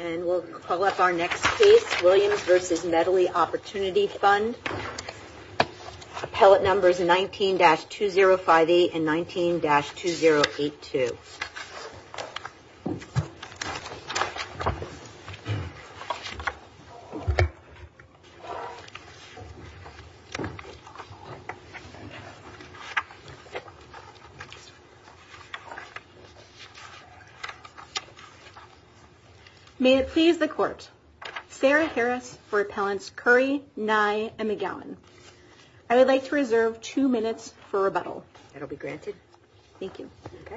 And we'll call up our next case, Williams v. Medley OpportunityFund. Appellate numbers 19-2058 and 19-2082. May it please the Court, Sarah Harris for Appellants Curry, Nye, and McGowan. I would like to reserve two minutes for rebuttal. That'll be granted. Thank you.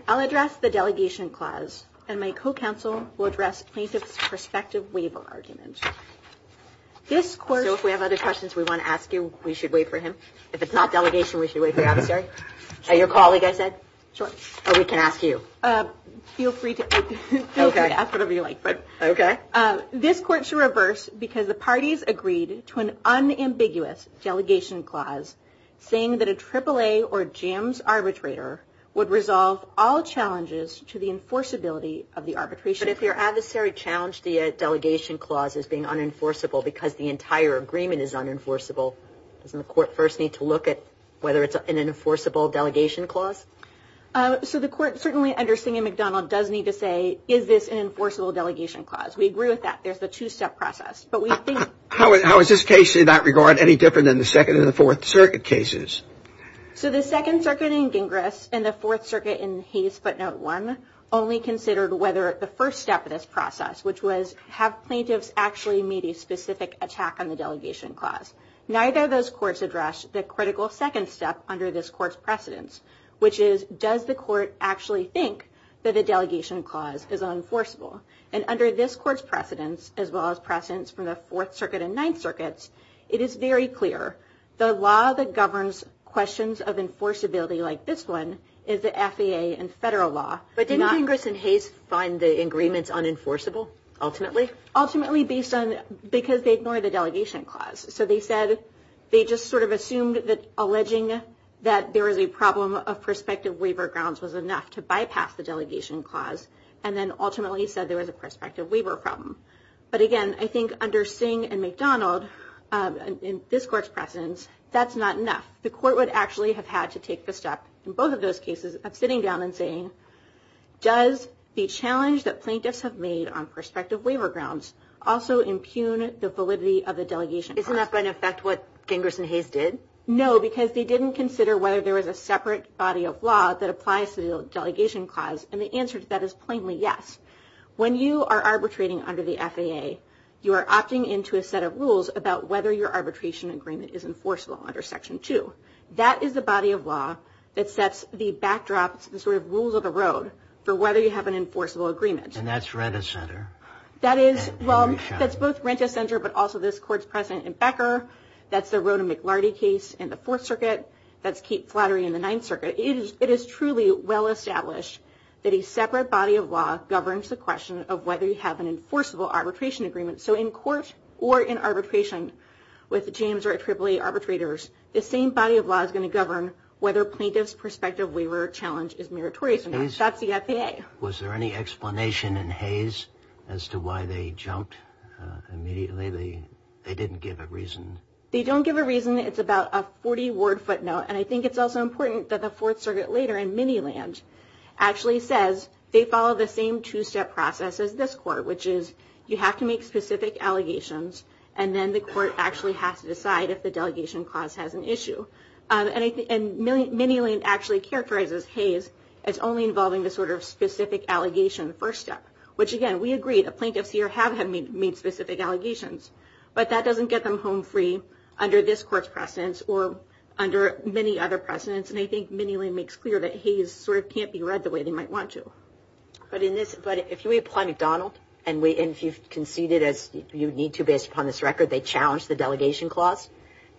I'll address the delegation clause, and my co-counsel will address plaintiff's prospective waiver argument. So if we have other questions we want to ask you, we should wait for him? If it's not delegation, we should wait for your adversary? Sure. Or your colleague, I said? Sure. Or we can ask you? Feel free to ask whatever you like. Okay. This Court should reverse because the parties agreed to an unambiguous delegation clause saying that a AAA or JAMS arbitrator would resolve all challenges to the enforceability of the arbitration. But if your adversary challenged the delegation clause as being unenforceable because the entire agreement is unenforceable, doesn't the Court first need to look at whether it's an enforceable delegation clause? Yes. So the Court certainly under Singham-McDonald does need to say, is this an enforceable delegation clause? We agree with that. There's the two-step process. How is this case in that regard any different than the Second and the Fourth Circuit cases? So the Second Circuit in Gingras and the Fourth Circuit in Hayes Footnote 1 only considered whether the first step of this process, which was, have plaintiffs actually made a specific attack on the delegation clause? Neither of those courts addressed the critical second step under this Court's precedence, which is, does the Court actually think that the delegation clause is unenforceable? And under this Court's precedence, as well as precedence from the Fourth Circuit and Ninth Circuits, it is very clear the law that governs questions of enforceability like this one is the FAA and federal law. But didn't Gingras and Hayes find the agreements unenforceable, ultimately? Ultimately, because they ignored the delegation clause. So they just sort of assumed that alleging that there was a problem of prospective waiver grounds was enough to bypass the delegation clause, and then ultimately said there was a prospective waiver problem. But again, I think under Singham-McDonald, in this Court's precedence, that's not enough. The Court would actually have had to take the step in both of those cases of sitting down and saying, does the challenge that plaintiffs have made on prospective waiver grounds also impugn the validity of the delegation clause? Isn't that going to affect what Gingras and Hayes did? No, because they didn't consider whether there was a separate body of law that applies to the delegation clause, and the answer to that is plainly yes. When you are arbitrating under the FAA, you are opting into a set of rules about whether your arbitration agreement is enforceable under Section 2. That is the body of law that sets the backdrop, the sort of rules of the road, for whether you have an enforceable agreement. And that's Rent-A-Center? That's both Rent-A-Center, but also this Court's precedent in Becker. That's the Rhoda McLarty case in the Fourth Circuit. That's Kate Flattery in the Ninth Circuit. It is truly well established that a separate body of law governs the question of whether you have an enforceable arbitration agreement. So in court or in arbitration with James or AAA arbitrators, the same body of law is going to govern whether plaintiff's prospective waiver challenge is meritorious or not. That's the FAA. Was there any explanation in Hayes as to why they jumped immediately? They didn't give a reason. They don't give a reason. It's about a 40-word footnote, and I think it's also important that the Fourth Circuit later in Miniland actually says they follow the same two-step process as this Court, which is you have to make specific allegations, and then the Court actually has to decide if the delegation clause has an issue. And Miniland actually characterizes Hayes as only involving the sort of specific allegation first step, which, again, we agree the plaintiffs here have made specific allegations, but that doesn't get them home free under this Court's precedence or under many other precedents, and I think Miniland makes clear that Hayes sort of can't be read the way they might want to. But if we apply McDonald, and if you concede it as you need to based upon this record, they challenge the delegation clause,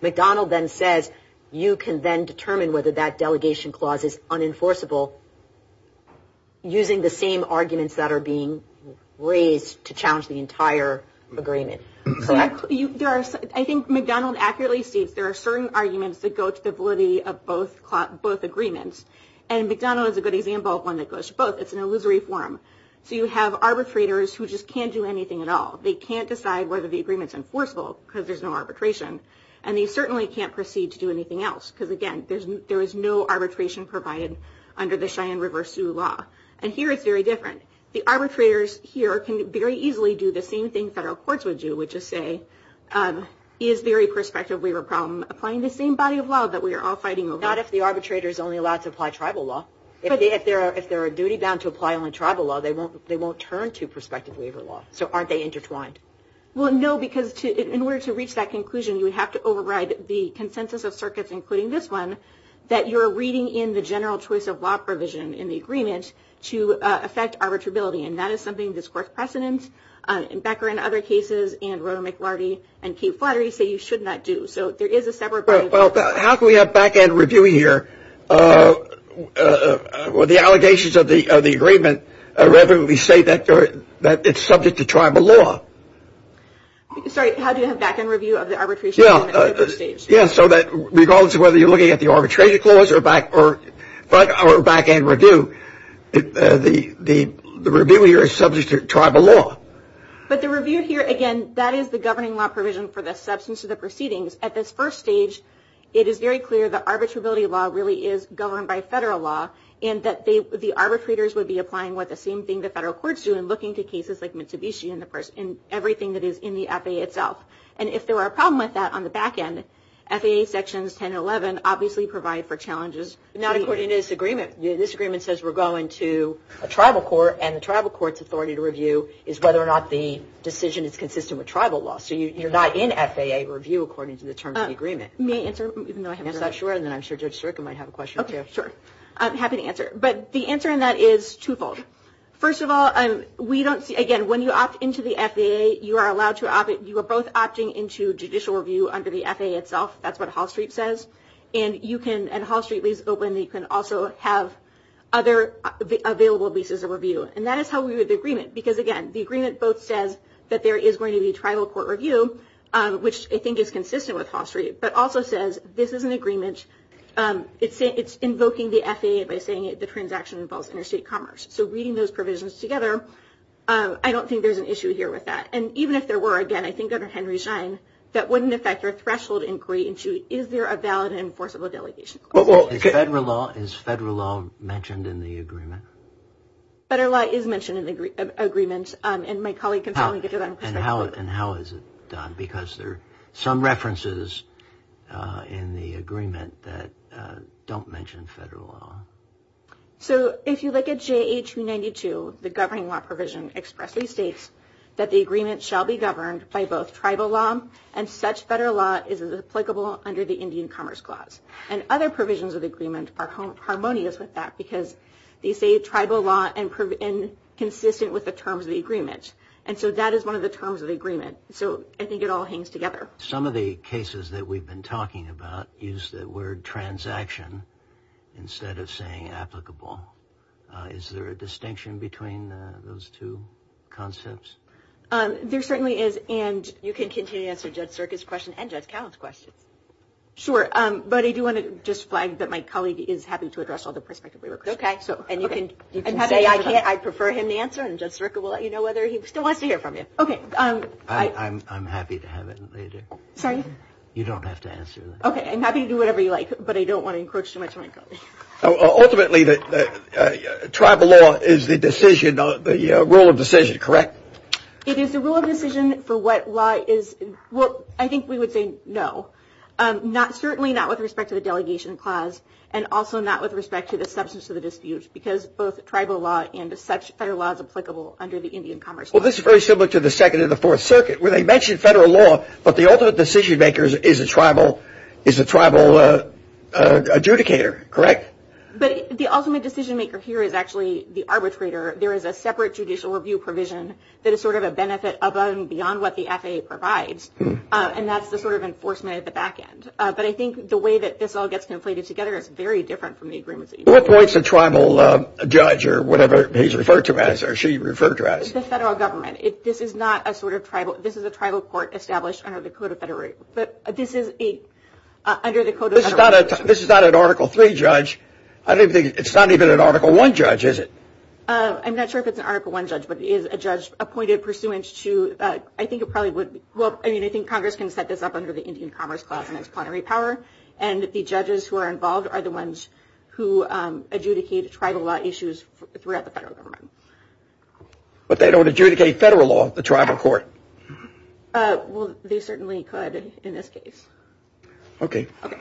McDonald then says you can then determine whether that delegation clause is unenforceable using the same arguments that are being raised to challenge the entire agreement. Correct. I think McDonald accurately states there are certain arguments that go to the validity of both agreements, and McDonald is a good example of one that goes to both. It's an illusory form. So you have arbitrators who just can't do anything at all. They can't decide whether the agreement's enforceable because there's no arbitration, and they certainly can't proceed to do anything else because, again, there is no arbitration provided under the Cheyenne River Sioux law. And here it's very different. The arbitrators here can very easily do the same thing federal courts would do, which is say he is very prospective waiver problem, applying the same body of law that we are all fighting over. Not if the arbitrator is only allowed to apply tribal law. If they are duty-bound to apply only tribal law, they won't turn to prospective waiver law. So aren't they intertwined? Well, no, because in order to reach that conclusion, you would have to override the consensus of circuits, including this one, that you're reading in the general choice of law provision in the agreement to affect arbitrability, and that is something this court's precedent, Becker and other cases, and Roto McLarty and Kate Flattery say you should not do. So there is a separate body of law. Well, how can we have back-end review here when the allegations of the agreement irrevocably say that it's subject to tribal law? Sorry, how do you have back-end review of the arbitration? Yeah, so that regardless of whether you're looking at the arbitration clause or back-end review, the review here is subject to tribal law. But the review here, again, that is the governing law provision for the substance of the proceedings. At this first stage, it is very clear that arbitrability law really is governed by federal law and that the arbitrators would be applying what the same thing the federal courts do in looking to cases like Mitsubishi and everything that is in the FAA itself. And if there were a problem with that on the back-end, FAA Sections 10 and 11 obviously provide for challenges. Not according to this agreement. This agreement says we're going to a tribal court, and the tribal court's authority to review is whether or not the decision is consistent with tribal law. So you're not in FAA review according to the terms of the agreement? May I answer? Yes, I'm sure. And then I'm sure Judge Stryka might have a question. Okay, sure. I'm happy to answer. But the answer in that is twofold. First of all, we don't see – again, when you opt into the FAA, you are both opting into judicial review under the FAA itself. That's what Hall Street says. And Hall Street leaves it open. You can also have other available leases of review. And that is how we read the agreement. Because, again, the agreement both says that there is going to be tribal court review, which I think is consistent with Hall Street, but also says this is an agreement. It's invoking the FAA by saying the transaction involves interstate commerce. So reading those provisions together, I don't think there's an issue here with that. And even if there were, again, I think under Henry Schein, that wouldn't affect our threshold inquiry into is there a valid and enforceable delegation clause. Is federal law mentioned in the agreement? Federal law is mentioned in the agreement. And my colleague can certainly get to that in perspective. And how is it done? Because there are some references in the agreement that don't mention federal law. So if you look at JA-292, the governing law provision expressly states that the agreement shall be governed by both tribal law and such federal law as is applicable under the Indian Commerce Clause. And other provisions of the agreement are harmonious with that because they say tribal law and consistent with the terms of the agreement. And so that is one of the terms of the agreement. So I think it all hangs together. Some of the cases that we've been talking about use the word transaction instead of saying applicable. Is there a distinction between those two concepts? There certainly is. And you can continue to answer Judge Serka's question and Judge Cowell's question. Sure. But I do want to just flag that my colleague is happy to address all the perspectives we requested. Okay. And you can say I prefer him to answer, and Judge Serka will let you know whether he still wants to hear from you. Okay. I'm happy to have it later. Sorry? You don't have to answer that. Okay. I'm happy to do whatever you like, but I don't want to encroach too much on my colleague. Ultimately, tribal law is the decision, the rule of decision, correct? It is the rule of decision for what law is. Well, I think we would say no. Certainly not with respect to the Delegation Clause and also not with respect to the substance of the dispute because both tribal law and federal law is applicable under the Indian Commerce Clause. Well, this is very similar to the Second and the Fourth Circuit, where they mentioned federal law, but the ultimate decision-maker is a tribal adjudicator, correct? But the ultimate decision-maker here is actually the arbitrator. There is a separate judicial review provision that is sort of a benefit above and beyond what the FAA provides, and that's the sort of enforcement at the back end. But I think the way that this all gets conflated together is very different from the agreements that you made. What points a tribal judge or whatever he's referred to as or she referred to as? The federal government. This is a tribal court established under the Code of Federal Rights. This is not an Article III judge. It's not even an Article I judge, is it? I'm not sure if it's an Article I judge, but it is a judge appointed pursuant to – I think it probably would – well, I mean, I think Congress can set this up under the Indian Commerce Clause and its plenary power, and the judges who are involved are the ones who adjudicate tribal law issues throughout the federal government. But they don't adjudicate federal law at the tribal court. Well, they certainly could in this case. Okay. Okay.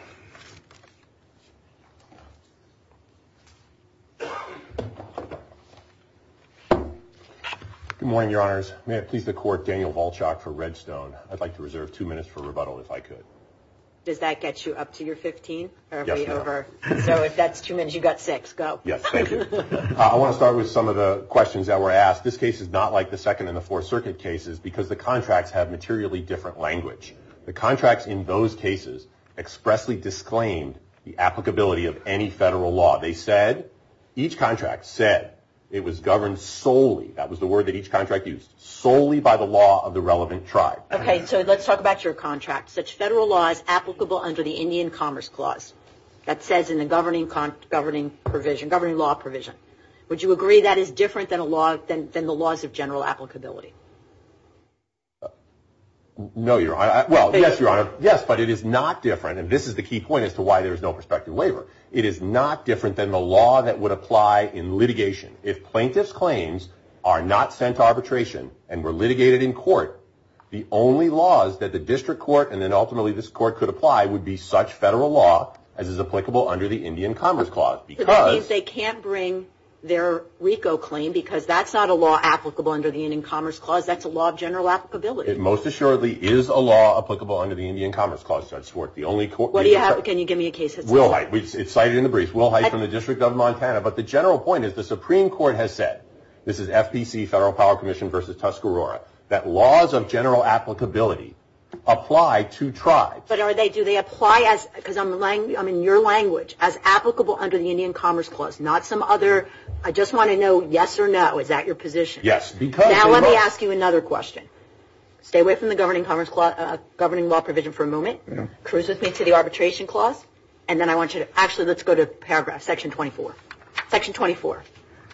Good morning, Your Honors. May it please the Court, Daniel Volchok for Redstone. I'd like to reserve two minutes for rebuttal if I could. Does that get you up to your 15? Yes, ma'am. So if that's two minutes, you've got six. Go. Yes, thank you. I want to start with some of the questions that were asked. This case is not like the Second and the Fourth Circuit cases because the contracts have materially different language. The contracts in those cases expressly disclaimed the applicability of any federal law. They said – each contract said it was governed solely – that was the word that each contract used – solely by the law of the relevant tribe. Okay. So let's talk about your contract. Such federal law is applicable under the Indian Commerce Clause. That says in the governing law provision. Would you agree that is different than the laws of general applicability? No, Your Honor. Well, yes, Your Honor. Yes, but it is not different, and this is the key point as to why there is no prospective waiver. It is not different than the law that would apply in litigation. If plaintiff's claims are not sent to arbitration and were litigated in court, the only laws that the district court and then ultimately this court could apply would be such federal law as is applicable under the Indian Commerce Clause because – That's a law of general applicability. It most assuredly is a law applicable under the Indian Commerce Clause, Judge Schwartz. The only court – What do you have? Can you give me a case that's – Will Hite. It's cited in the brief. Will Hite from the District of Montana. But the general point is the Supreme Court has said – this is FPC, Federal Power Commission v. Tuscarora – that laws of general applicability apply to tribes. But are they – do they apply as – because I'm in your language – as applicable under the Indian Commerce Clause, not some other – I just want to know yes or no. Is that your position? Yes. Now let me ask you another question. Stay away from the governing law provision for a moment. Cruise with me to the arbitration clause. And then I want you to – actually, let's go to paragraph – Section 24. Section 24.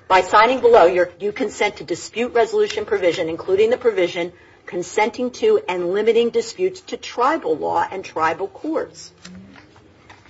By signing below, you consent to dispute resolution provision, including the provision consenting to and limiting disputes to tribal law and tribal courts.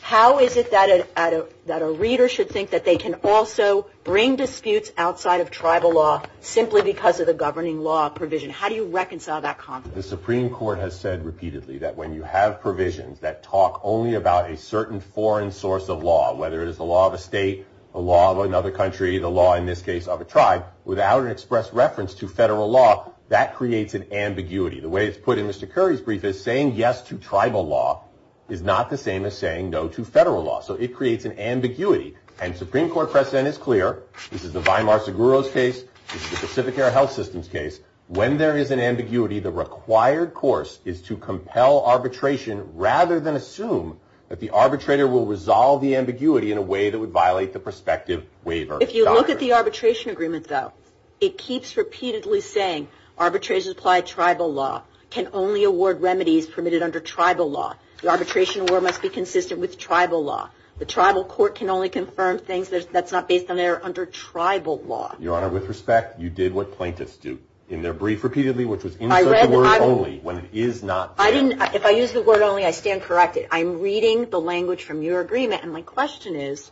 How is it that a reader should think that they can also bring disputes outside of tribal law simply because of the governing law provision? How do you reconcile that conflict? The Supreme Court has said repeatedly that when you have provisions that talk only about a certain foreign source of law, whether it is the law of a state, the law of another country, the law in this case of a tribe, without an express reference to federal law, that creates an ambiguity. The way it's put in Mr. Curry's brief is saying yes to tribal law is not the same as saying no to federal law. So it creates an ambiguity. And Supreme Court precedent is clear. This is the Weimar-Seguros case. This is the Pacific Air Health Systems case. When there is an ambiguity, the required course is to compel arbitration rather than assume that the arbitrator will resolve the ambiguity in a way that would violate the prospective waiver. If you look at the arbitration agreement, though, it keeps repeatedly saying arbitrators apply tribal law, can only award remedies permitted under tribal law. The arbitration award must be consistent with tribal law. The tribal court can only confirm things that's not based on error under tribal law. Your Honor, with respect, you did what plaintiffs do in their brief repeatedly, which was insert the word only when it is not there. If I use the word only, I stand corrected. I'm reading the language from your agreement, and my question is,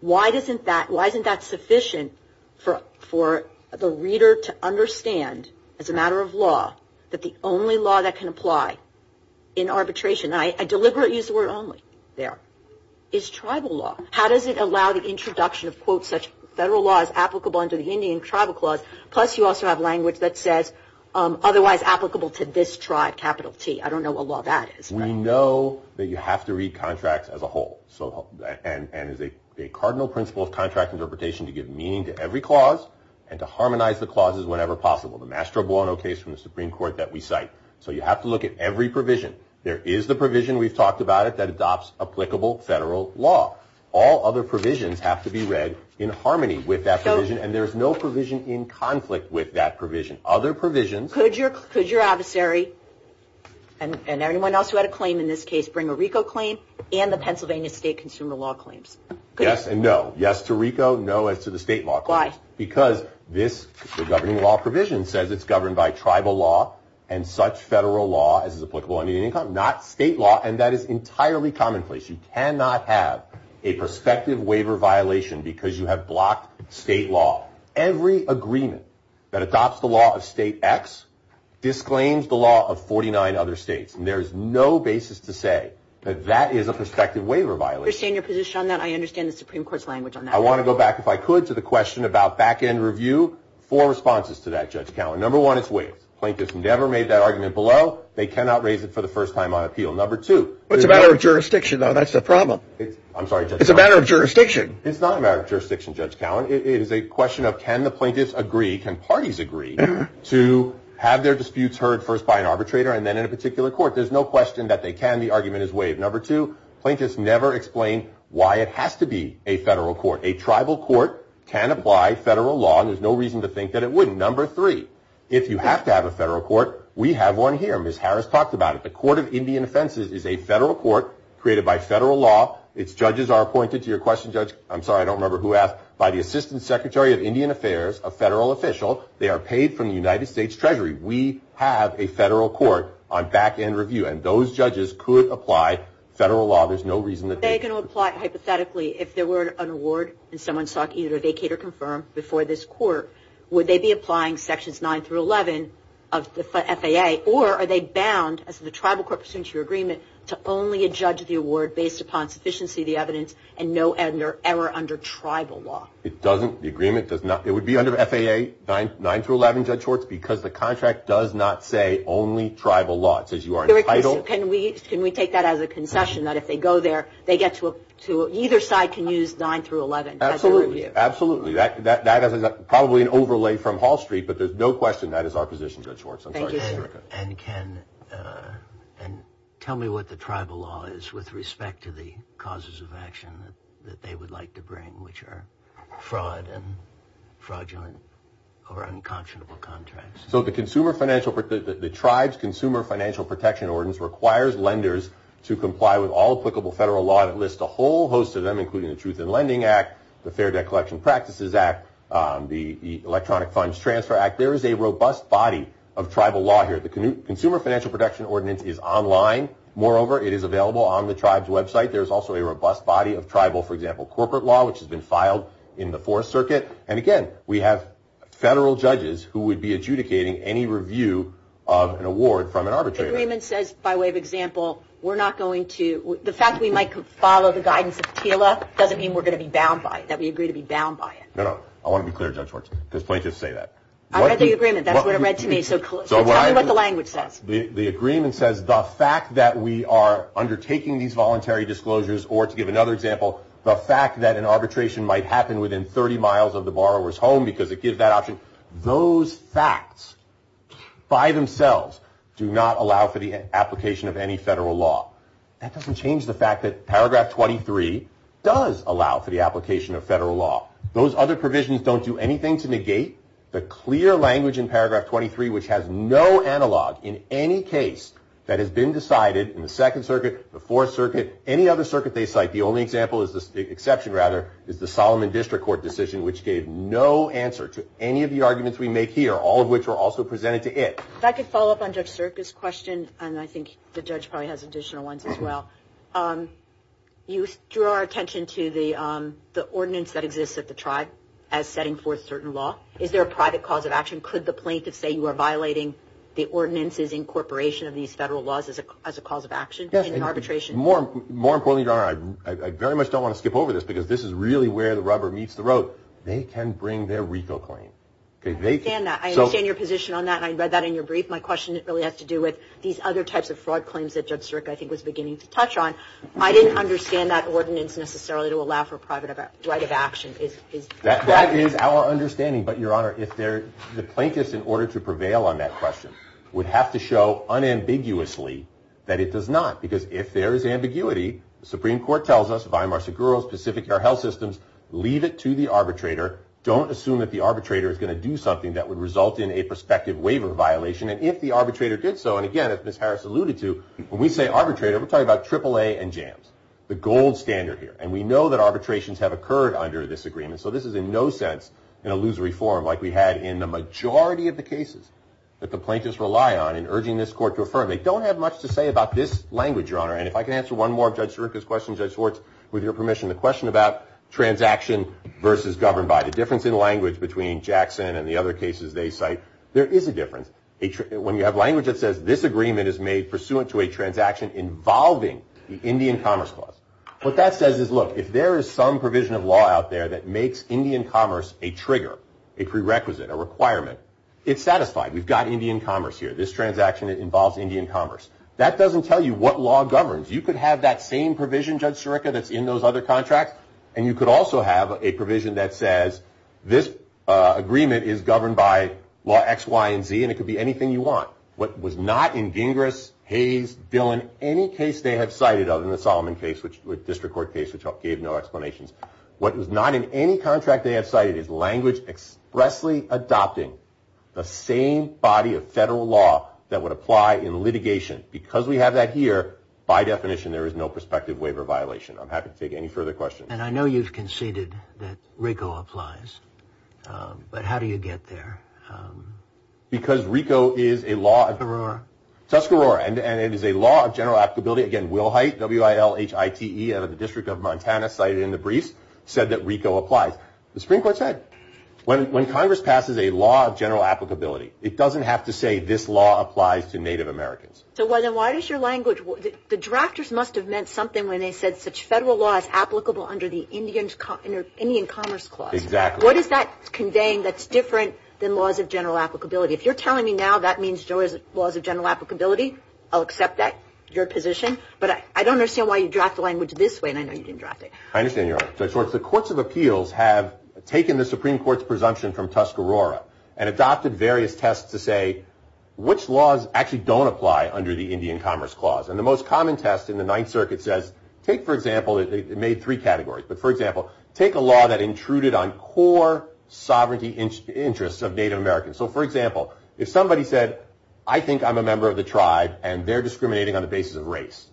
why isn't that sufficient for the reader to understand as a matter of law that the only law that can apply in arbitration, and I deliberately used the word only there, is tribal law. How does it allow the introduction of, quote, such federal law as applicable under the Indian tribal clause, plus you also have language that says otherwise applicable to this tribe, capital T. I don't know what law that is. We know that you have to read contracts as a whole, and it's a cardinal principle of contract interpretation to give meaning to every clause and to harmonize the clauses whenever possible. The Mastro Buono case from the Supreme Court that we cite. So you have to look at every provision. There is the provision, we've talked about it, that adopts applicable federal law. All other provisions have to be read in harmony with that provision, and there is no provision in conflict with that provision. Other provisions. Could your adversary, and anyone else who had a claim in this case, bring a RICO claim and the Pennsylvania state consumer law claims? Yes and no. Yes to RICO, no as to the state law claims. Why? Because this governing law provision says it's governed by tribal law and such federal law as is applicable under Indian income, not state law, and that is entirely commonplace. You cannot have a prospective waiver violation because you have blocked state law. Every agreement that adopts the law of state X disclaims the law of 49 other states, and there is no basis to say that that is a prospective waiver violation. I understand your position on that. I understand the Supreme Court's language on that. I want to go back, if I could, to the question about back-end review. Four responses to that, Judge Cowen. Number one, it's waived. Plaintiffs never made that argument below. They cannot raise it for the first time on appeal. Number two. It's a matter of jurisdiction, though. That's the problem. I'm sorry, Judge Cowen. It's a matter of jurisdiction. It's not a matter of jurisdiction, Judge Cowen. It is a question of can the plaintiffs agree, can parties agree, to have their disputes heard first by an arbitrator and then in a particular court. There's no question that they can. The argument is waived. Number two. Plaintiffs never explain why it has to be a federal court. A tribal court can apply federal law, and there's no reason to think that it wouldn't. Number three. If you have to have a federal court, we have one here. Ms. Harris talked about it. The Court of Indian Offenses is a federal court created by federal law. Its judges are appointed to your question, Judge. I'm sorry, I don't remember who asked. By the Assistant Secretary of Indian Affairs, a federal official. They are paid from the United States Treasury. We have a federal court on back-end review, and those judges could apply federal law. There's no reason that they could. Are they going to apply hypothetically if there were an award and someone sought either to vacate or confirm before this court? Would they be applying Sections 9 through 11 of the FAA, or are they bound as the tribal court pursuant to your agreement to only adjudge the award based upon sufficiency of the evidence and no error under tribal law? It doesn't. The agreement does not. It would be under FAA 9 through 11, Judge Hortz, because the contract does not say only tribal law. It says you are entitled. Can we take that as a concession that if they go there, either side can use 9 through 11 as their review? Absolutely. That is probably an overlay from Hall Street, but there's no question that is our position, Judge Hortz. Thank you, sir. And tell me what the tribal law is with respect to the causes of action that they would like to bring, which are fraud and fraudulent or unconscionable contracts. The tribe's Consumer Financial Protection Ordinance requires lenders to comply with all applicable federal law that lists a whole host of them, including the Truth in Lending Act, the Fair Debt Collection Practices Act, the Electronic Funds Transfer Act. There is a robust body of tribal law here. The Consumer Financial Protection Ordinance is online. Moreover, it is available on the tribe's website. There is also a robust body of tribal, for example, corporate law, which has been filed in the Fourth Circuit. And again, we have federal judges who would be adjudicating any review of an award from an arbitrator. The agreement says, by way of example, we're not going to – the fact we might follow the guidance of TILA doesn't mean we're going to be bound by it, that we agree to be bound by it. No, no. I want to be clear, Judge Hortz, because plaintiffs say that. I read the agreement. That's what it read to me. So tell me what the language says. The agreement says the fact that we are undertaking these voluntary disclosures or, to give another example, the fact that an arbitration might happen within 30 miles of the borrower's home because it gives that option. Those facts by themselves do not allow for the application of any federal law. That doesn't change the fact that Paragraph 23 does allow for the application of federal law. Those other provisions don't do anything to negate the clear language in Paragraph 23, which has no analog in any case that has been decided in the Second Circuit, the Fourth Circuit, any other circuit they cite. The only exception is the Solomon District Court decision, which gave no answer to any of the arguments we make here, all of which were also presented to it. If I could follow up on Judge Serka's question, and I think the judge probably has additional ones as well. You drew our attention to the ordinance that exists at the tribe as setting forth certain law. Is there a private cause of action? Could the plaintiff say you are violating the ordinance's incorporation of these federal laws as a cause of action in an arbitration? More importantly, Your Honor, I very much don't want to skip over this because this is really where the rubber meets the road. They can bring their RICO claim. I understand that. I understand your position on that, and I read that in your brief. My question really has to do with these other types of fraud claims that Judge Serka, I think, was beginning to touch on. I didn't understand that ordinance necessarily to allow for private right of action. That is our understanding, but, Your Honor, the plaintiffs, in order to prevail on that question, would have to show unambiguously that it does not because if there is ambiguity, the Supreme Court tells us, Weimar Seguro, Pacific Air Health Systems, leave it to the arbitrator. Don't assume that the arbitrator is going to do something that would result in a prospective waiver violation. And if the arbitrator did so, and again, as Ms. Harris alluded to, when we say arbitrator, we're talking about AAA and JAMS, the gold standard here. And we know that arbitrations have occurred under this agreement, so this is in no sense an illusory form like we had in the majority of the cases that the plaintiffs rely on in urging this court to affirm. They don't have much to say about this language, Your Honor. And if I can answer one more of Judge Serka's questions, Judge Schwartz, with your permission, the question about transaction versus governed by. The difference in language between Jackson and the other cases they cite, there is a difference. When you have language that says, This agreement is made pursuant to a transaction involving the Indian Commerce Clause. What that says is, look, if there is some provision of law out there that makes Indian commerce a trigger, a prerequisite, a requirement, it's satisfied. We've got Indian commerce here. This transaction involves Indian commerce. That doesn't tell you what law governs. You could have that same provision, Judge Serka, that's in those other contracts, and you could also have a provision that says, This agreement is governed by law X, Y, and Z, and it could be anything you want. What was not in Gingras, Hayes, Dillon, any case they have cited other than the Solomon case, which was a district court case which gave no explanations. What was not in any contract they have cited is language expressly adopting the same body of federal law that would apply in litigation. Because we have that here, by definition, there is no prospective waiver violation. I'm happy to take any further questions. And I know you've conceded that RICO applies, but how do you get there? Because RICO is a law of Tuscarora, and it is a law of general applicability. Again, Wilhite, W-I-L-H-I-T-E, out of the District of Montana, cited in the briefs, said that RICO applies. The Supreme Court said when Congress passes a law of general applicability, it doesn't have to say this law applies to Native Americans. So why does your language, the drafters must have meant something when they said such federal law is applicable under the Indian Commerce Clause. Exactly. What is that conveying that's different than laws of general applicability? If you're telling me now that means there was laws of general applicability, I'll accept that, your position. But I don't understand why you draft the language this way, and I know you didn't draft it. I understand your argument. The Courts of Appeals have taken the Supreme Court's presumption from Tuscarora and adopted various tests to say which laws actually don't apply under the Indian Commerce Clause. And the most common test in the Ninth Circuit says, take, for example, it made three categories. But, for example, take a law that intruded on core sovereignty interests of Native Americans. So, for example, if somebody said, I think I'm a member of the tribe, and they're discriminating on the basis of race,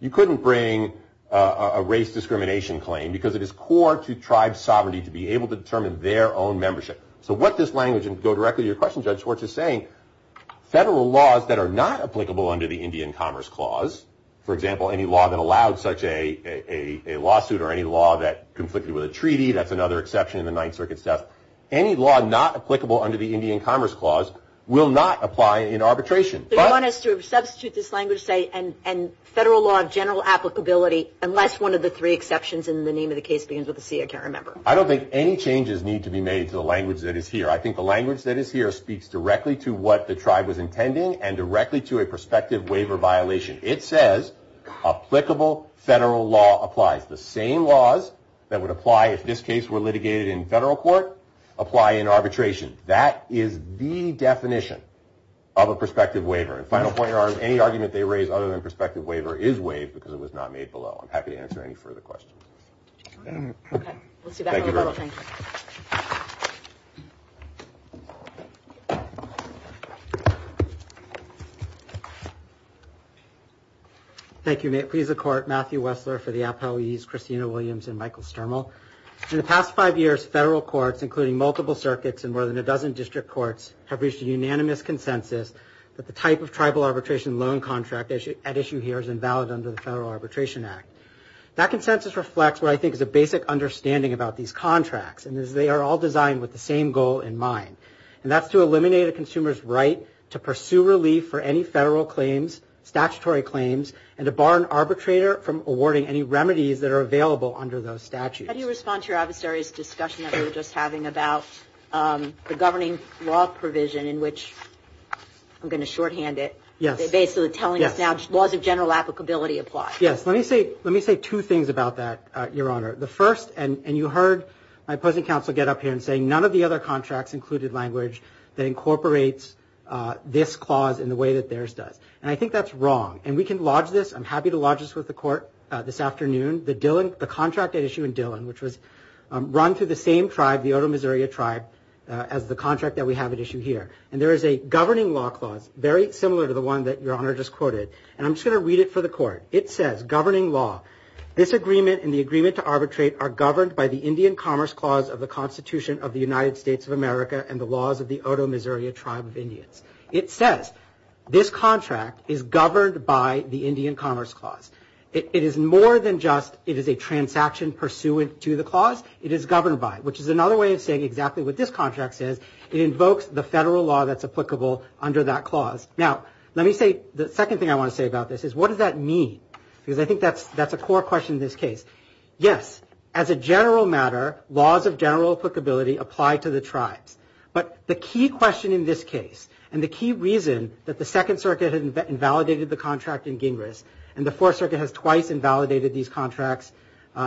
you couldn't bring a race discrimination claim because it is core to tribe sovereignty to be able to determine their own membership. So what this language, and to go directly to your question, Judge Schwartz, is saying, federal laws that are not applicable under the Indian Commerce Clause, for example, any law that allowed such a lawsuit or any law that conflicted with a treaty, that's another exception in the Ninth Circuit's test, any law not applicable under the Indian Commerce Clause will not apply in arbitration. So you want us to substitute this language, say, and federal law of general applicability, unless one of the three exceptions in the name of the case begins with a C, I can't remember. I don't think any changes need to be made to the language that is here. I think the language that is here speaks directly to what the tribe was intending and directly to a prospective waiver violation. It says applicable federal law applies. The same laws that would apply if this case were litigated in federal court apply in arbitration. That is the definition of a prospective waiver. And final point, any argument they raise other than prospective waiver is waived because it was not made below. I'm happy to answer any further questions. Thank you very much. Thank you, Nate. Please accord Matthew Wessler for the appellees, Christina Williams and Michael Sturmel. In the past five years, federal courts, including multiple circuits and more than a dozen district courts, have reached a unanimous consensus that the type of tribal arbitration loan contract at issue here is invalid under the Federal Arbitration Act. That consensus reflects what I think is a basic understanding about these contracts, and they are all designed with the same goal in mind, and that's to eliminate a consumer's right to pursue relief for any federal claims, statutory claims, and to bar an arbitrator from awarding any remedies that are available under those statutes. How do you respond to your adversary's discussion that we were just having about the governing law provision in which, I'm going to shorthand it, they're basically telling us now laws of general applicability apply. Yes. Let me say two things about that, Your Honor. The first, and you heard my opposing counsel get up here and say none of the other contracts included language that incorporates this clause in the way that theirs does. And I think that's wrong. And we can lodge this. I'm happy to lodge this with the Court this afternoon. The contract at issue in Dillon, which was run through the same tribe, the Otoe Missouri tribe, as the contract that we have at issue here. And there is a governing law clause, very similar to the one that Your Honor just quoted, and I'm just going to read it for the Court. It says, governing law, this agreement and the agreement to arbitrate are governed by the Indian Commerce Clause of the Constitution of the United States of America and the laws of the Otoe Missouri tribe of Indians. It says this contract is governed by the Indian Commerce Clause. It is more than just it is a transaction pursuant to the clause. It is governed by it, which is another way of saying exactly what this contract says. It invokes the federal law that's applicable under that clause. Now, let me say the second thing I want to say about this is what does that mean? Because I think that's a core question in this case. Yes, as a general matter, laws of general applicability apply to the tribes. But the key question in this case, and the key reason that the Second Circuit had invalidated the contract in Gingras, and the Fourth Circuit has twice invalidated these contracts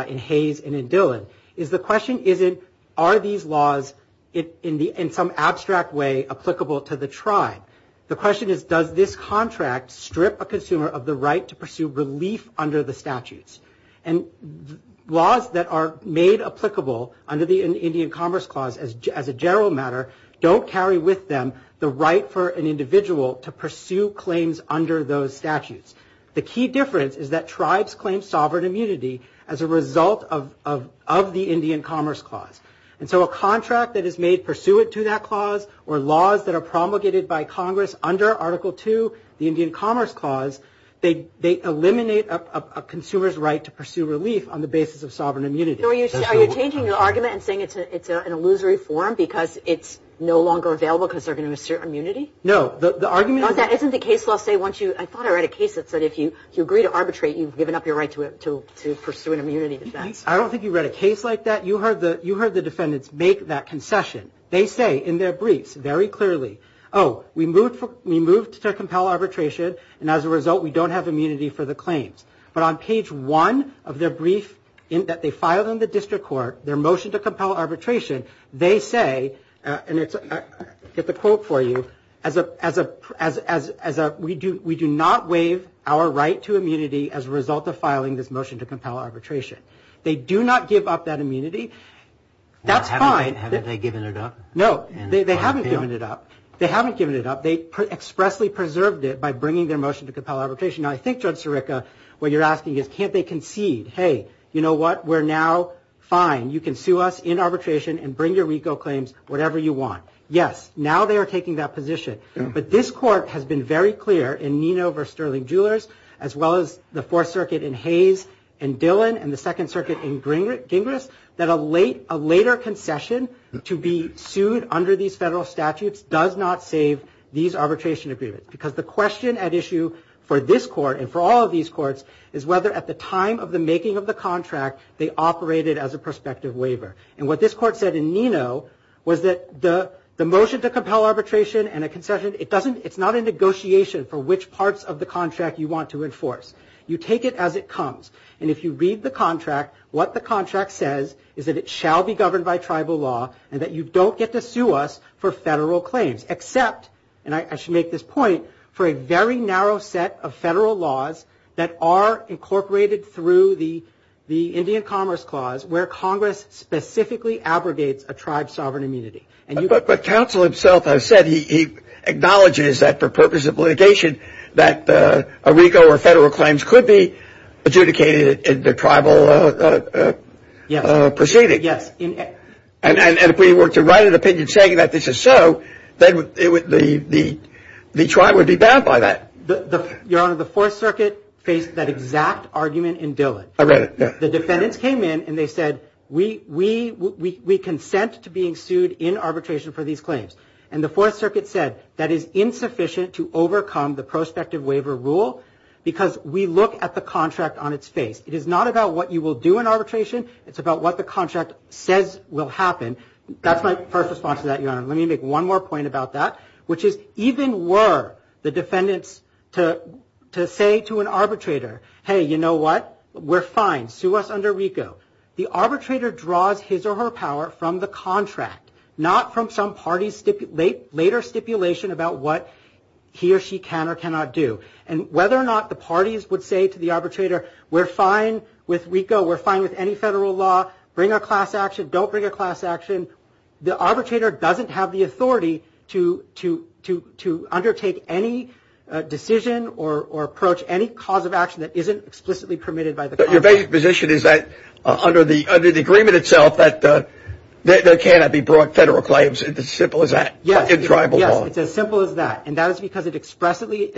in Hayes and in Dillon, is the question isn't are these laws in some abstract way applicable to the tribe. The question is does this contract strip a consumer of the right to pursue relief under the statutes? And laws that are made applicable under the Indian Commerce Clause, as a general matter, don't carry with them the right for an individual to pursue claims under those statutes. The key difference is that tribes claim sovereign immunity as a result of the Indian Commerce Clause. And so a contract that is made pursuant to that clause, or laws that are promulgated by Congress under Article II, the Indian Commerce Clause, they eliminate a consumer's right to pursue relief on the basis of sovereign immunity. Are you changing your argument and saying it's an illusory form because it's no longer available because they're going to assert immunity? No, the argument is... Isn't the case law say once you... I thought I read a case that said if you agree to arbitrate, you've given up your right to pursue an immunity defense. I don't think you read a case like that. You heard the defendants make that concession. They say in their briefs very clearly, Oh, we moved to compel arbitration, and as a result, we don't have immunity for the claims. But on page one of their brief that they filed in the district court, their motion to compel arbitration, they say, and I'll get the quote for you, we do not waive our right to immunity as a result of filing this motion to compel arbitration. They do not give up that immunity. That's fine. Well, haven't they given it up? No, they haven't given it up. They haven't given it up. They expressly preserved it by bringing their motion to compel arbitration. Now, I think, Judge Sirica, what you're asking is can't they concede? Hey, you know what? We're now fine. You can sue us in arbitration and bring your RICO claims, whatever you want. Yes, now they are taking that position. But this court has been very clear in Nino v. Sterling Jewelers, as well as the Fourth Circuit in Hayes and Dillon and the Second Circuit in Gingras, that a later concession to be sued under these federal statutes does not save these arbitration agreements because the question at issue for this court and for all of these courts is whether, at the time of the making of the contract, they operated as a prospective waiver. And what this court said in Nino was that the motion to compel arbitration and a concession, it's not a negotiation for which parts of the contract you want to enforce. You take it as it comes. And if you read the contract, what the contract says is that it shall be governed by tribal law and that you don't get to sue us for federal claims except, and I should make this point, for a very narrow set of federal laws that are incorporated through the Indian Commerce Clause where Congress specifically abrogates a tribe's sovereign immunity. But counsel himself has said he acknowledges that, for purposes of litigation, that a RICO or federal claims could be adjudicated in the tribal proceeding. Yes. And if we were to write an opinion saying that this is so, then the tribe would be bound by that. Your Honor, the Fourth Circuit faced that exact argument in Dillon. I read it. The defendants came in and they said, we consent to being sued in arbitration for these claims. And the Fourth Circuit said that is insufficient to overcome the prospective waiver rule because we look at the contract on its face. It is not about what you will do in arbitration. It's about what the contract says will happen. That's my first response to that, Your Honor. Let me make one more point about that, which is even were the defendants to say to an arbitrator, hey, you know what? We're fine. Sue us under RICO. The arbitrator draws his or her power from the contract, not from some party's later stipulation about what he or she can or cannot do. And whether or not the parties would say to the arbitrator, we're fine with RICO, we're fine with any federal law, bring a class action, don't bring a class action, the arbitrator doesn't have the authority to undertake any decision or approach any cause of action that isn't explicitly permitted by the contract. Your basic position is that under the agreement itself that there cannot be brought federal claims. It's as simple as that in tribal law. Yes, it's as simple as that. And that is because it expressly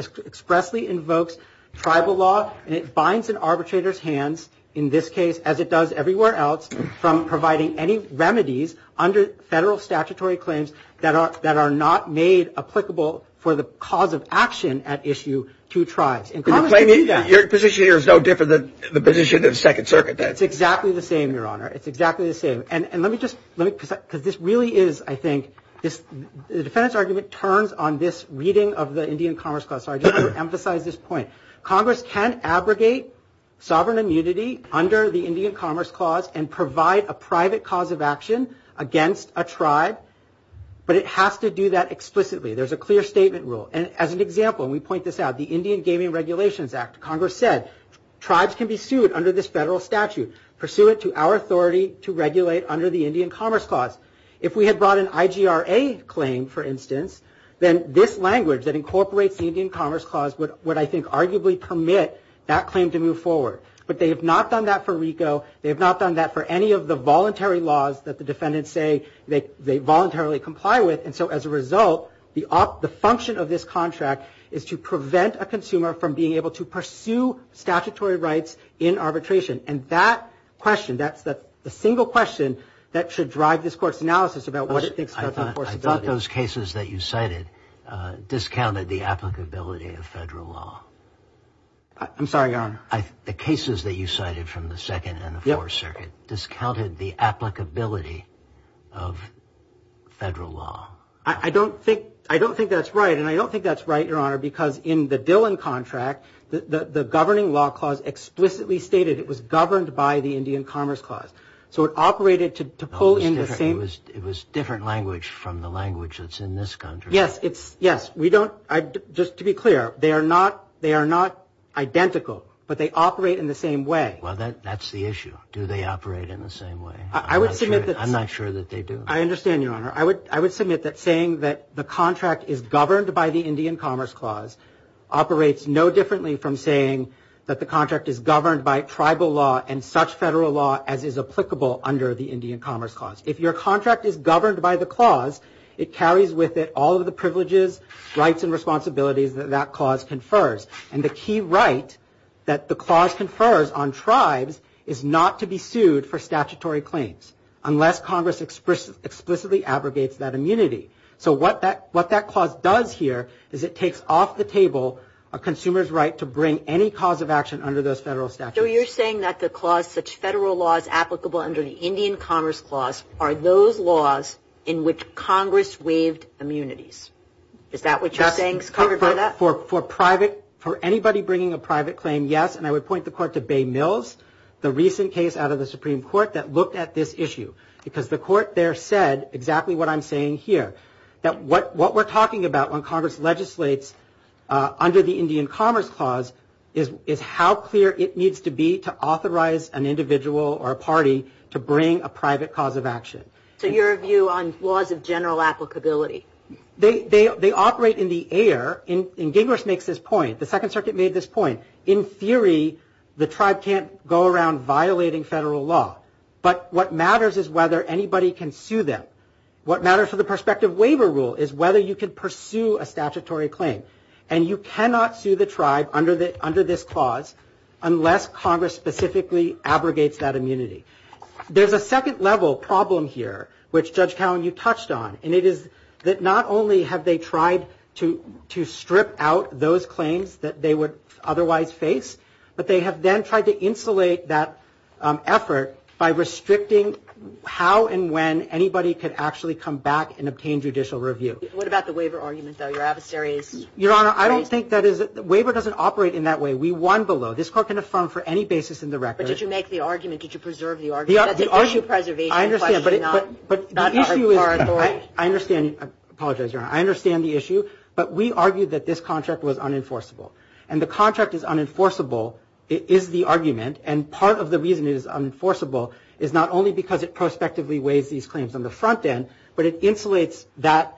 invokes tribal law, and it binds an arbitrator's hands, in this case as it does everywhere else, from providing any remedies under federal statutory claims that are not made applicable for the cause of action at issue to tribes. Your position here is no different than the position of the Second Circuit. It's exactly the same, Your Honor. It's exactly the same. And let me just, because this really is, I think, the defendant's argument turns on this reading of the Indian Commerce Clause. So I just want to emphasize this point. Congress can abrogate sovereign immunity under the Indian Commerce Clause and provide a private cause of action against a tribe, but it has to do that explicitly. There's a clear statement rule. As an example, and we point this out, the Indian Gaming Regulations Act, Congress said tribes can be sued under this federal statute. Pursue it to our authority to regulate under the Indian Commerce Clause. If we had brought an IGRA claim, for instance, then this language that incorporates the Indian Commerce Clause would, I think, arguably permit that claim to move forward. But they have not done that for RICO. They have not done that for any of the voluntary laws that the defendants say they voluntarily comply with. And so as a result, the function of this contract is to prevent a consumer from being able to pursue statutory rights in arbitration. And that question, that's the single question that should drive this Court's analysis about what it thinks about enforceability. I thought those cases that you cited discounted the applicability of federal law. I'm sorry, Your Honor. The cases that you cited from the Second and the Fourth Circuit discounted the applicability of federal law. I don't think that's right. And I don't think that's right, Your Honor, because in the Dillon Contract, the Governing Law Clause explicitly stated it was governed by the Indian Commerce Clause. So it operated to pull in the same. It was different language from the language that's in this contract. Yes. We don't, just to be clear, they are not identical, but they operate in the same way. Well, that's the issue. Do they operate in the same way? I'm not sure that they do. I understand, Your Honor. I would submit that saying that the contract is governed by the Indian Commerce Clause operates no differently from saying that the contract is governed by tribal law and such federal law as is applicable under the Indian Commerce Clause. If your contract is governed by the clause, it carries with it all of the privileges, rights, and responsibilities that that clause confers. And the key right that the clause confers on tribes is not to be sued for statutory claims unless Congress explicitly abrogates that immunity. So what that clause does here is it takes off the table a consumer's right to bring any cause of action under those federal statutes. So you're saying that the clause, such federal law as applicable under the Indian Commerce Clause, are those laws in which Congress waived immunities. Is that what you're saying is covered by that? For anybody bringing a private claim, yes. And I would point the court to Bay Mills, the recent case out of the Supreme Court, that looked at this issue because the court there said exactly what I'm saying here, that what we're talking about when Congress legislates under the Indian Commerce Clause is how clear it needs to be to authorize an individual or a party to bring a private cause of action. So your view on laws of general applicability? They operate in the air. And Gingras makes this point. The Second Circuit made this point. In theory, the tribe can't go around violating federal law. But what matters is whether anybody can sue them. What matters for the prospective waiver rule is whether you can pursue a statutory claim. And you cannot sue the tribe under this clause unless Congress specifically abrogates that immunity. There's a second-level problem here, which, Judge Cowen, you touched on. And it is that not only have they tried to strip out those claims that they would otherwise face, but they have then tried to insulate that effort by restricting how and when anybody could actually come back and obtain judicial review. What about the waiver argument, though? Your adversary is raised? Your Honor, I don't think that is – the waiver doesn't operate in that way. We won below. This court can affirm for any basis in the record. But did you make the argument? Did you preserve the argument? That's a issue of preservation. I understand. But the issue is – I understand. I apologize, Your Honor. I understand the issue. But we argued that this contract was unenforceable. And the contract is unenforceable is the argument. And part of the reason it is unenforceable is not only because it prospectively waives these claims on the front end, but it insulates that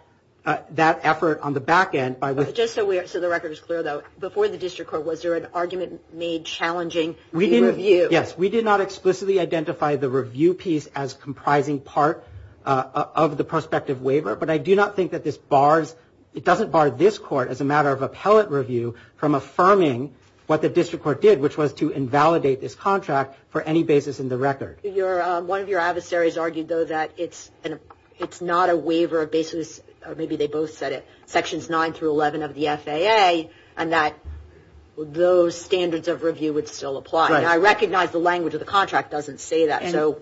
effort on the back end by – Just so the record is clear, though, before the district court, was there an argument made challenging the review? Yes. We did not explicitly identify the review piece as comprising part of the prospective waiver. But I do not think that this bars – it doesn't bar this court, as a matter of appellate review, from affirming what the district court did, which was to invalidate this contract for any basis in the record. One of your adversaries argued, though, that it's not a waiver of basis – or maybe they both said it – sections 9 through 11 of the FAA, and that those standards of review would still apply. Now, I recognize the language of the contract doesn't say that, so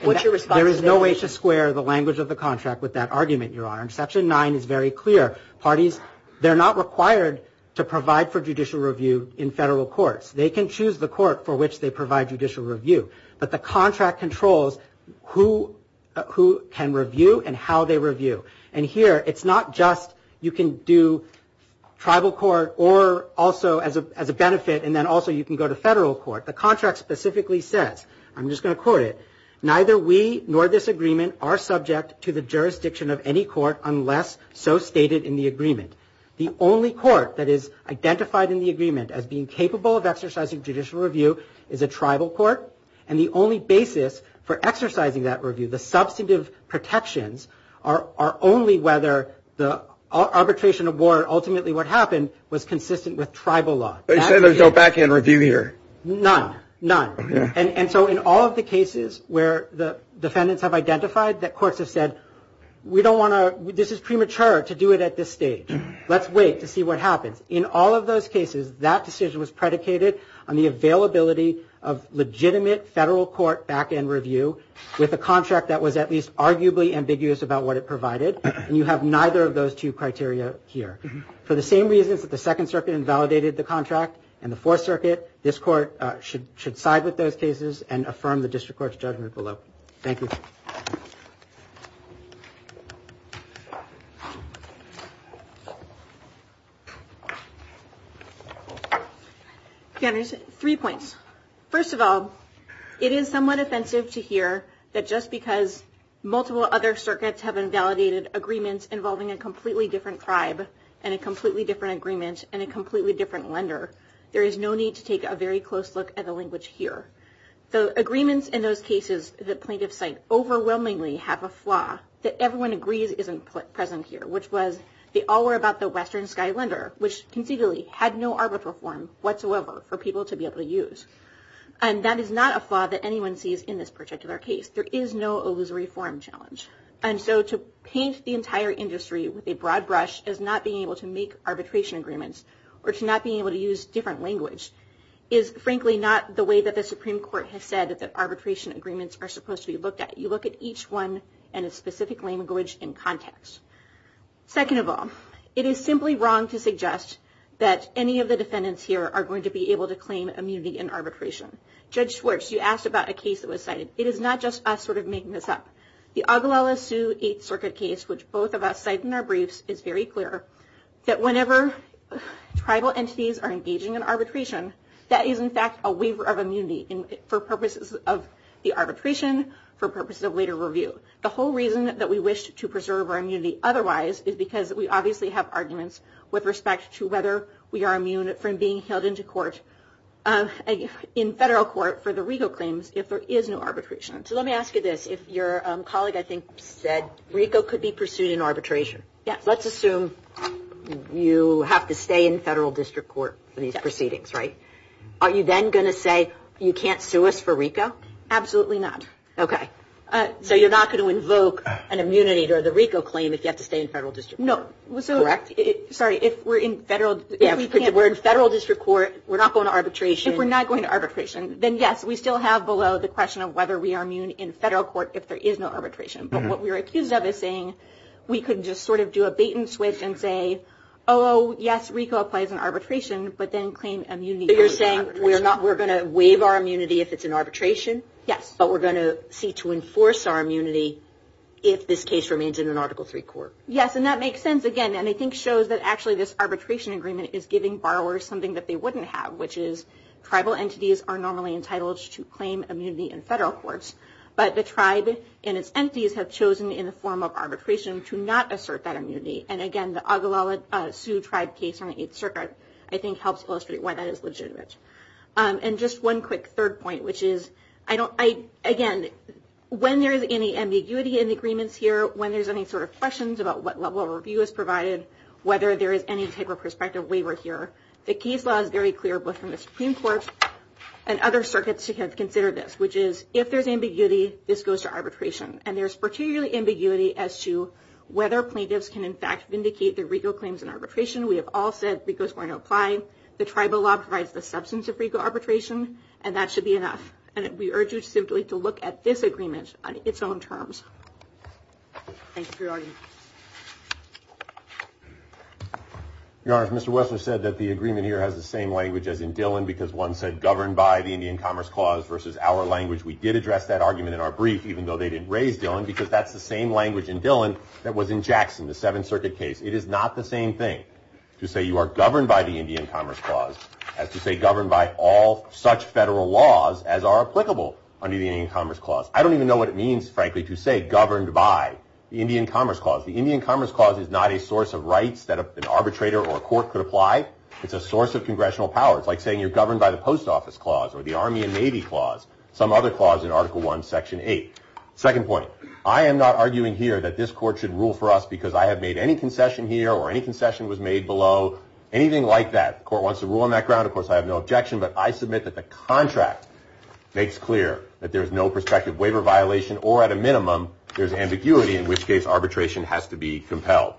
what's your response to that? There is no way to square the language of the contract with that argument, Your Honor. And section 9 is very clear. Parties – they're not required to provide for judicial review in federal courts. They can choose the court for which they provide judicial review. But the contract controls who can review and how they review. And here, it's not just you can do tribal court or also as a benefit, and then also you can go to federal court. The contract specifically says – I'm just going to quote it – neither we nor this agreement are subject to the jurisdiction of any court unless so stated in the agreement. The only court that is identified in the agreement as being capable of exercising judicial review is a tribal court, and the only basis for exercising that review, the substantive protections, are only whether the arbitration award, ultimately what happened, was consistent with tribal law. You say there's no back-end review here. None. None. And so in all of the cases where the defendants have identified that courts have said, we don't want to – this is premature to do it at this stage. Let's wait to see what happens. In all of those cases, that decision was predicated on the availability of legitimate federal court back-end review with a contract that was at least arguably ambiguous about what it provided, and you have neither of those two criteria here. For the same reasons that the Second Circuit invalidated the contract and the Fourth Circuit, this court should side with those cases and affirm the district court's judgment below. Thank you. Three points. First of all, it is somewhat offensive to hear that just because multiple other circuits have invalidated agreements involving a completely different tribe and a completely different agreement and a completely different lender, there is no need to take a very close look at the language here. The agreements in those cases that plaintiffs cite overwhelmingly have a flaw that everyone agrees isn't present here, which was they all were about the Western Sky Lender, which conceivably had no arbitral form whatsoever for people to be able to use. And that is not a flaw that anyone sees in this particular case. There is no illusory form challenge. And so to paint the entire industry with a broad brush as not being able to make arbitration agreements or to not being able to use different language is, frankly, not the way that the Supreme Court has said that arbitration agreements are supposed to be looked at. You look at each one in a specific language and context. Second of all, it is simply wrong to suggest that any of the defendants here are going to be able to claim immunity in arbitration. Judge Schwartz, you asked about a case that was cited. It is not just us sort of making this up. The Oglala Sioux Eighth Circuit case, which both of us cite in our briefs, is very clear that whenever tribal entities are engaging in arbitration, that is, in fact, a waiver of immunity for purposes of the arbitration, for purposes of later review. The whole reason that we wish to preserve our immunity otherwise is because we obviously have arguments with respect to whether we are immune from being held in federal court for the regal claims if there is no arbitration. So let me ask you this. If your colleague, I think, said RICO could be pursued in arbitration, let's assume you have to stay in federal district court for these proceedings, right? Are you then going to say you can't sue us for RICO? Absolutely not. Okay. So you're not going to invoke an immunity or the RICO claim if you have to stay in federal district court. No. Correct? Sorry. If we're in federal district court, we're not going to arbitration. If we're not going to arbitration, then yes, we still have below the question of whether we are immune in federal court if there is no arbitration. But what we're accused of is saying we could just sort of do a bait and switch and say, oh, yes, RICO applies in arbitration, but then claim immunity. So you're saying we're going to waive our immunity if it's in arbitration. Yes. But we're going to seek to enforce our immunity if this case remains in an Article III court. Yes, and that makes sense, again, and I think shows that actually this arbitration agreement is giving borrowers something that they wouldn't have, which is tribal entities are normally entitled to claim immunity in federal courts, but the tribe and its entities have chosen in the form of arbitration to not assert that immunity. And, again, the Oglala Sioux Tribe case on the Eighth Circuit, I think, helps illustrate why that is legitimate. And just one quick third point, which is, again, when there is any ambiguity in the agreements here, when there's any sort of questions about what level of review is provided, whether there is any type of prospective waiver here, the Keyes Law is very clear, both from the Supreme Court and other circuits who have considered this, which is, if there's ambiguity, this goes to arbitration. And there's particularly ambiguity as to whether plaintiffs can, in fact, vindicate their RICO claims in arbitration. We have all said RICO is going to apply. The tribal law provides the substance of RICO arbitration, and that should be enough. And we urge you simply to look at this agreement on its own terms. Thank you for your argument. Your Honor, Mr. Wessler said that the agreement here has the same language as in Dillon, because one said governed by the Indian Commerce Clause versus our language. We did address that argument in our brief, even though they didn't raise Dillon, because that's the same language in Dillon that was in Jackson, the Seventh Circuit case. It is not the same thing to say you are governed by the Indian Commerce Clause as to say governed by all such federal laws as are applicable under the Indian Commerce Clause. I don't even know what it means, frankly, to say governed by the Indian Commerce Clause. The Indian Commerce Clause is not a source of rights that an arbitrator or a court could apply. It's a source of congressional power. It's like saying you're governed by the Post Office Clause or the Army and Navy Clause, some other clause in Article I, Section 8. Second point, I am not arguing here that this Court should rule for us because I have made any concession here or any concession was made below, anything like that. The Court wants to rule on that ground. Of course, I have no objection. But I submit that the contract makes clear that there's no prospective waiver violation or at a minimum there's ambiguity, in which case arbitration has to be compelled.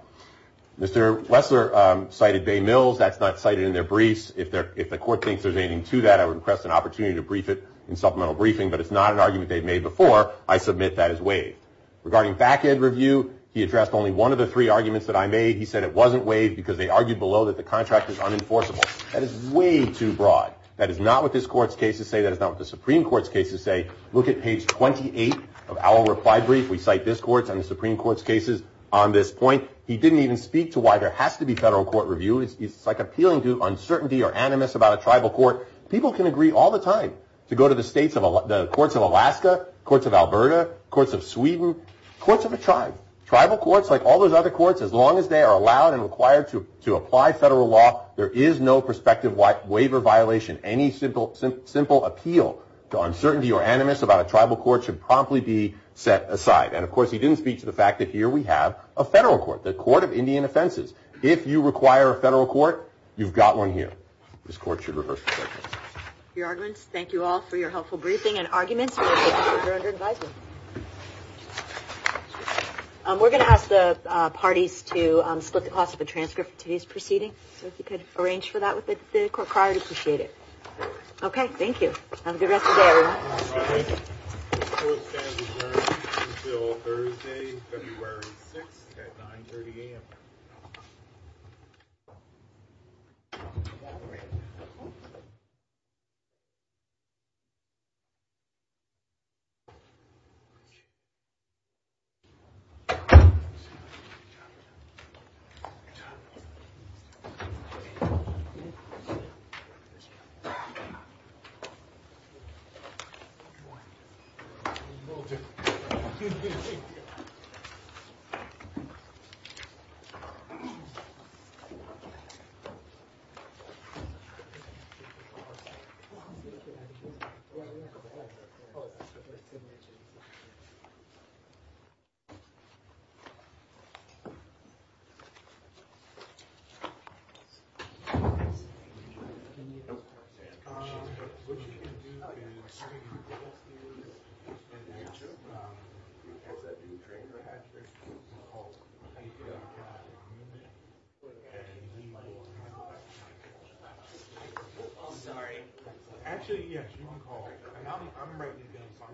Mr. Wessler cited Bay Mills. That's not cited in their briefs. If the Court thinks there's anything to that, I would request an opportunity to brief it in supplemental briefing. But it's not an argument they've made before. I submit that is waived. Regarding back-end review, he addressed only one of the three arguments that I made. He said it wasn't waived because they argued below that the contract is unenforceable. That is way too broad. That is not what this Court's cases say. That is not what the Supreme Court's cases say. Look at page 28 of our reply brief. We cite this Court's and the Supreme Court's cases on this point. He didn't even speak to why there has to be federal court review. It's like appealing to uncertainty or animus about a tribal court. People can agree all the time to go to the courts of Alaska, courts of Alberta, courts of Sweden, courts of a tribe. Tribal courts, like all those other courts, as long as they are allowed and required to apply federal law, there is no prospective waiver violation. Any simple appeal to uncertainty or animus about a tribal court should promptly be set aside. And, of course, he didn't speak to the fact that here we have a federal court, the Court of Indian Offenses. If you require a federal court, you've got one here. This Court should reverse the verdict. Your arguments. Thank you all for your helpful briefing and arguments. We're going to ask the parties to split the cost of the transcript for today's proceeding. So if you could arrange for that with the court card, I'd appreciate it. Okay, thank you. Have a good rest of the day, everyone. Thank you. Sorry. Actually, yes. I'm ready. Okay. Thank you. Thank you.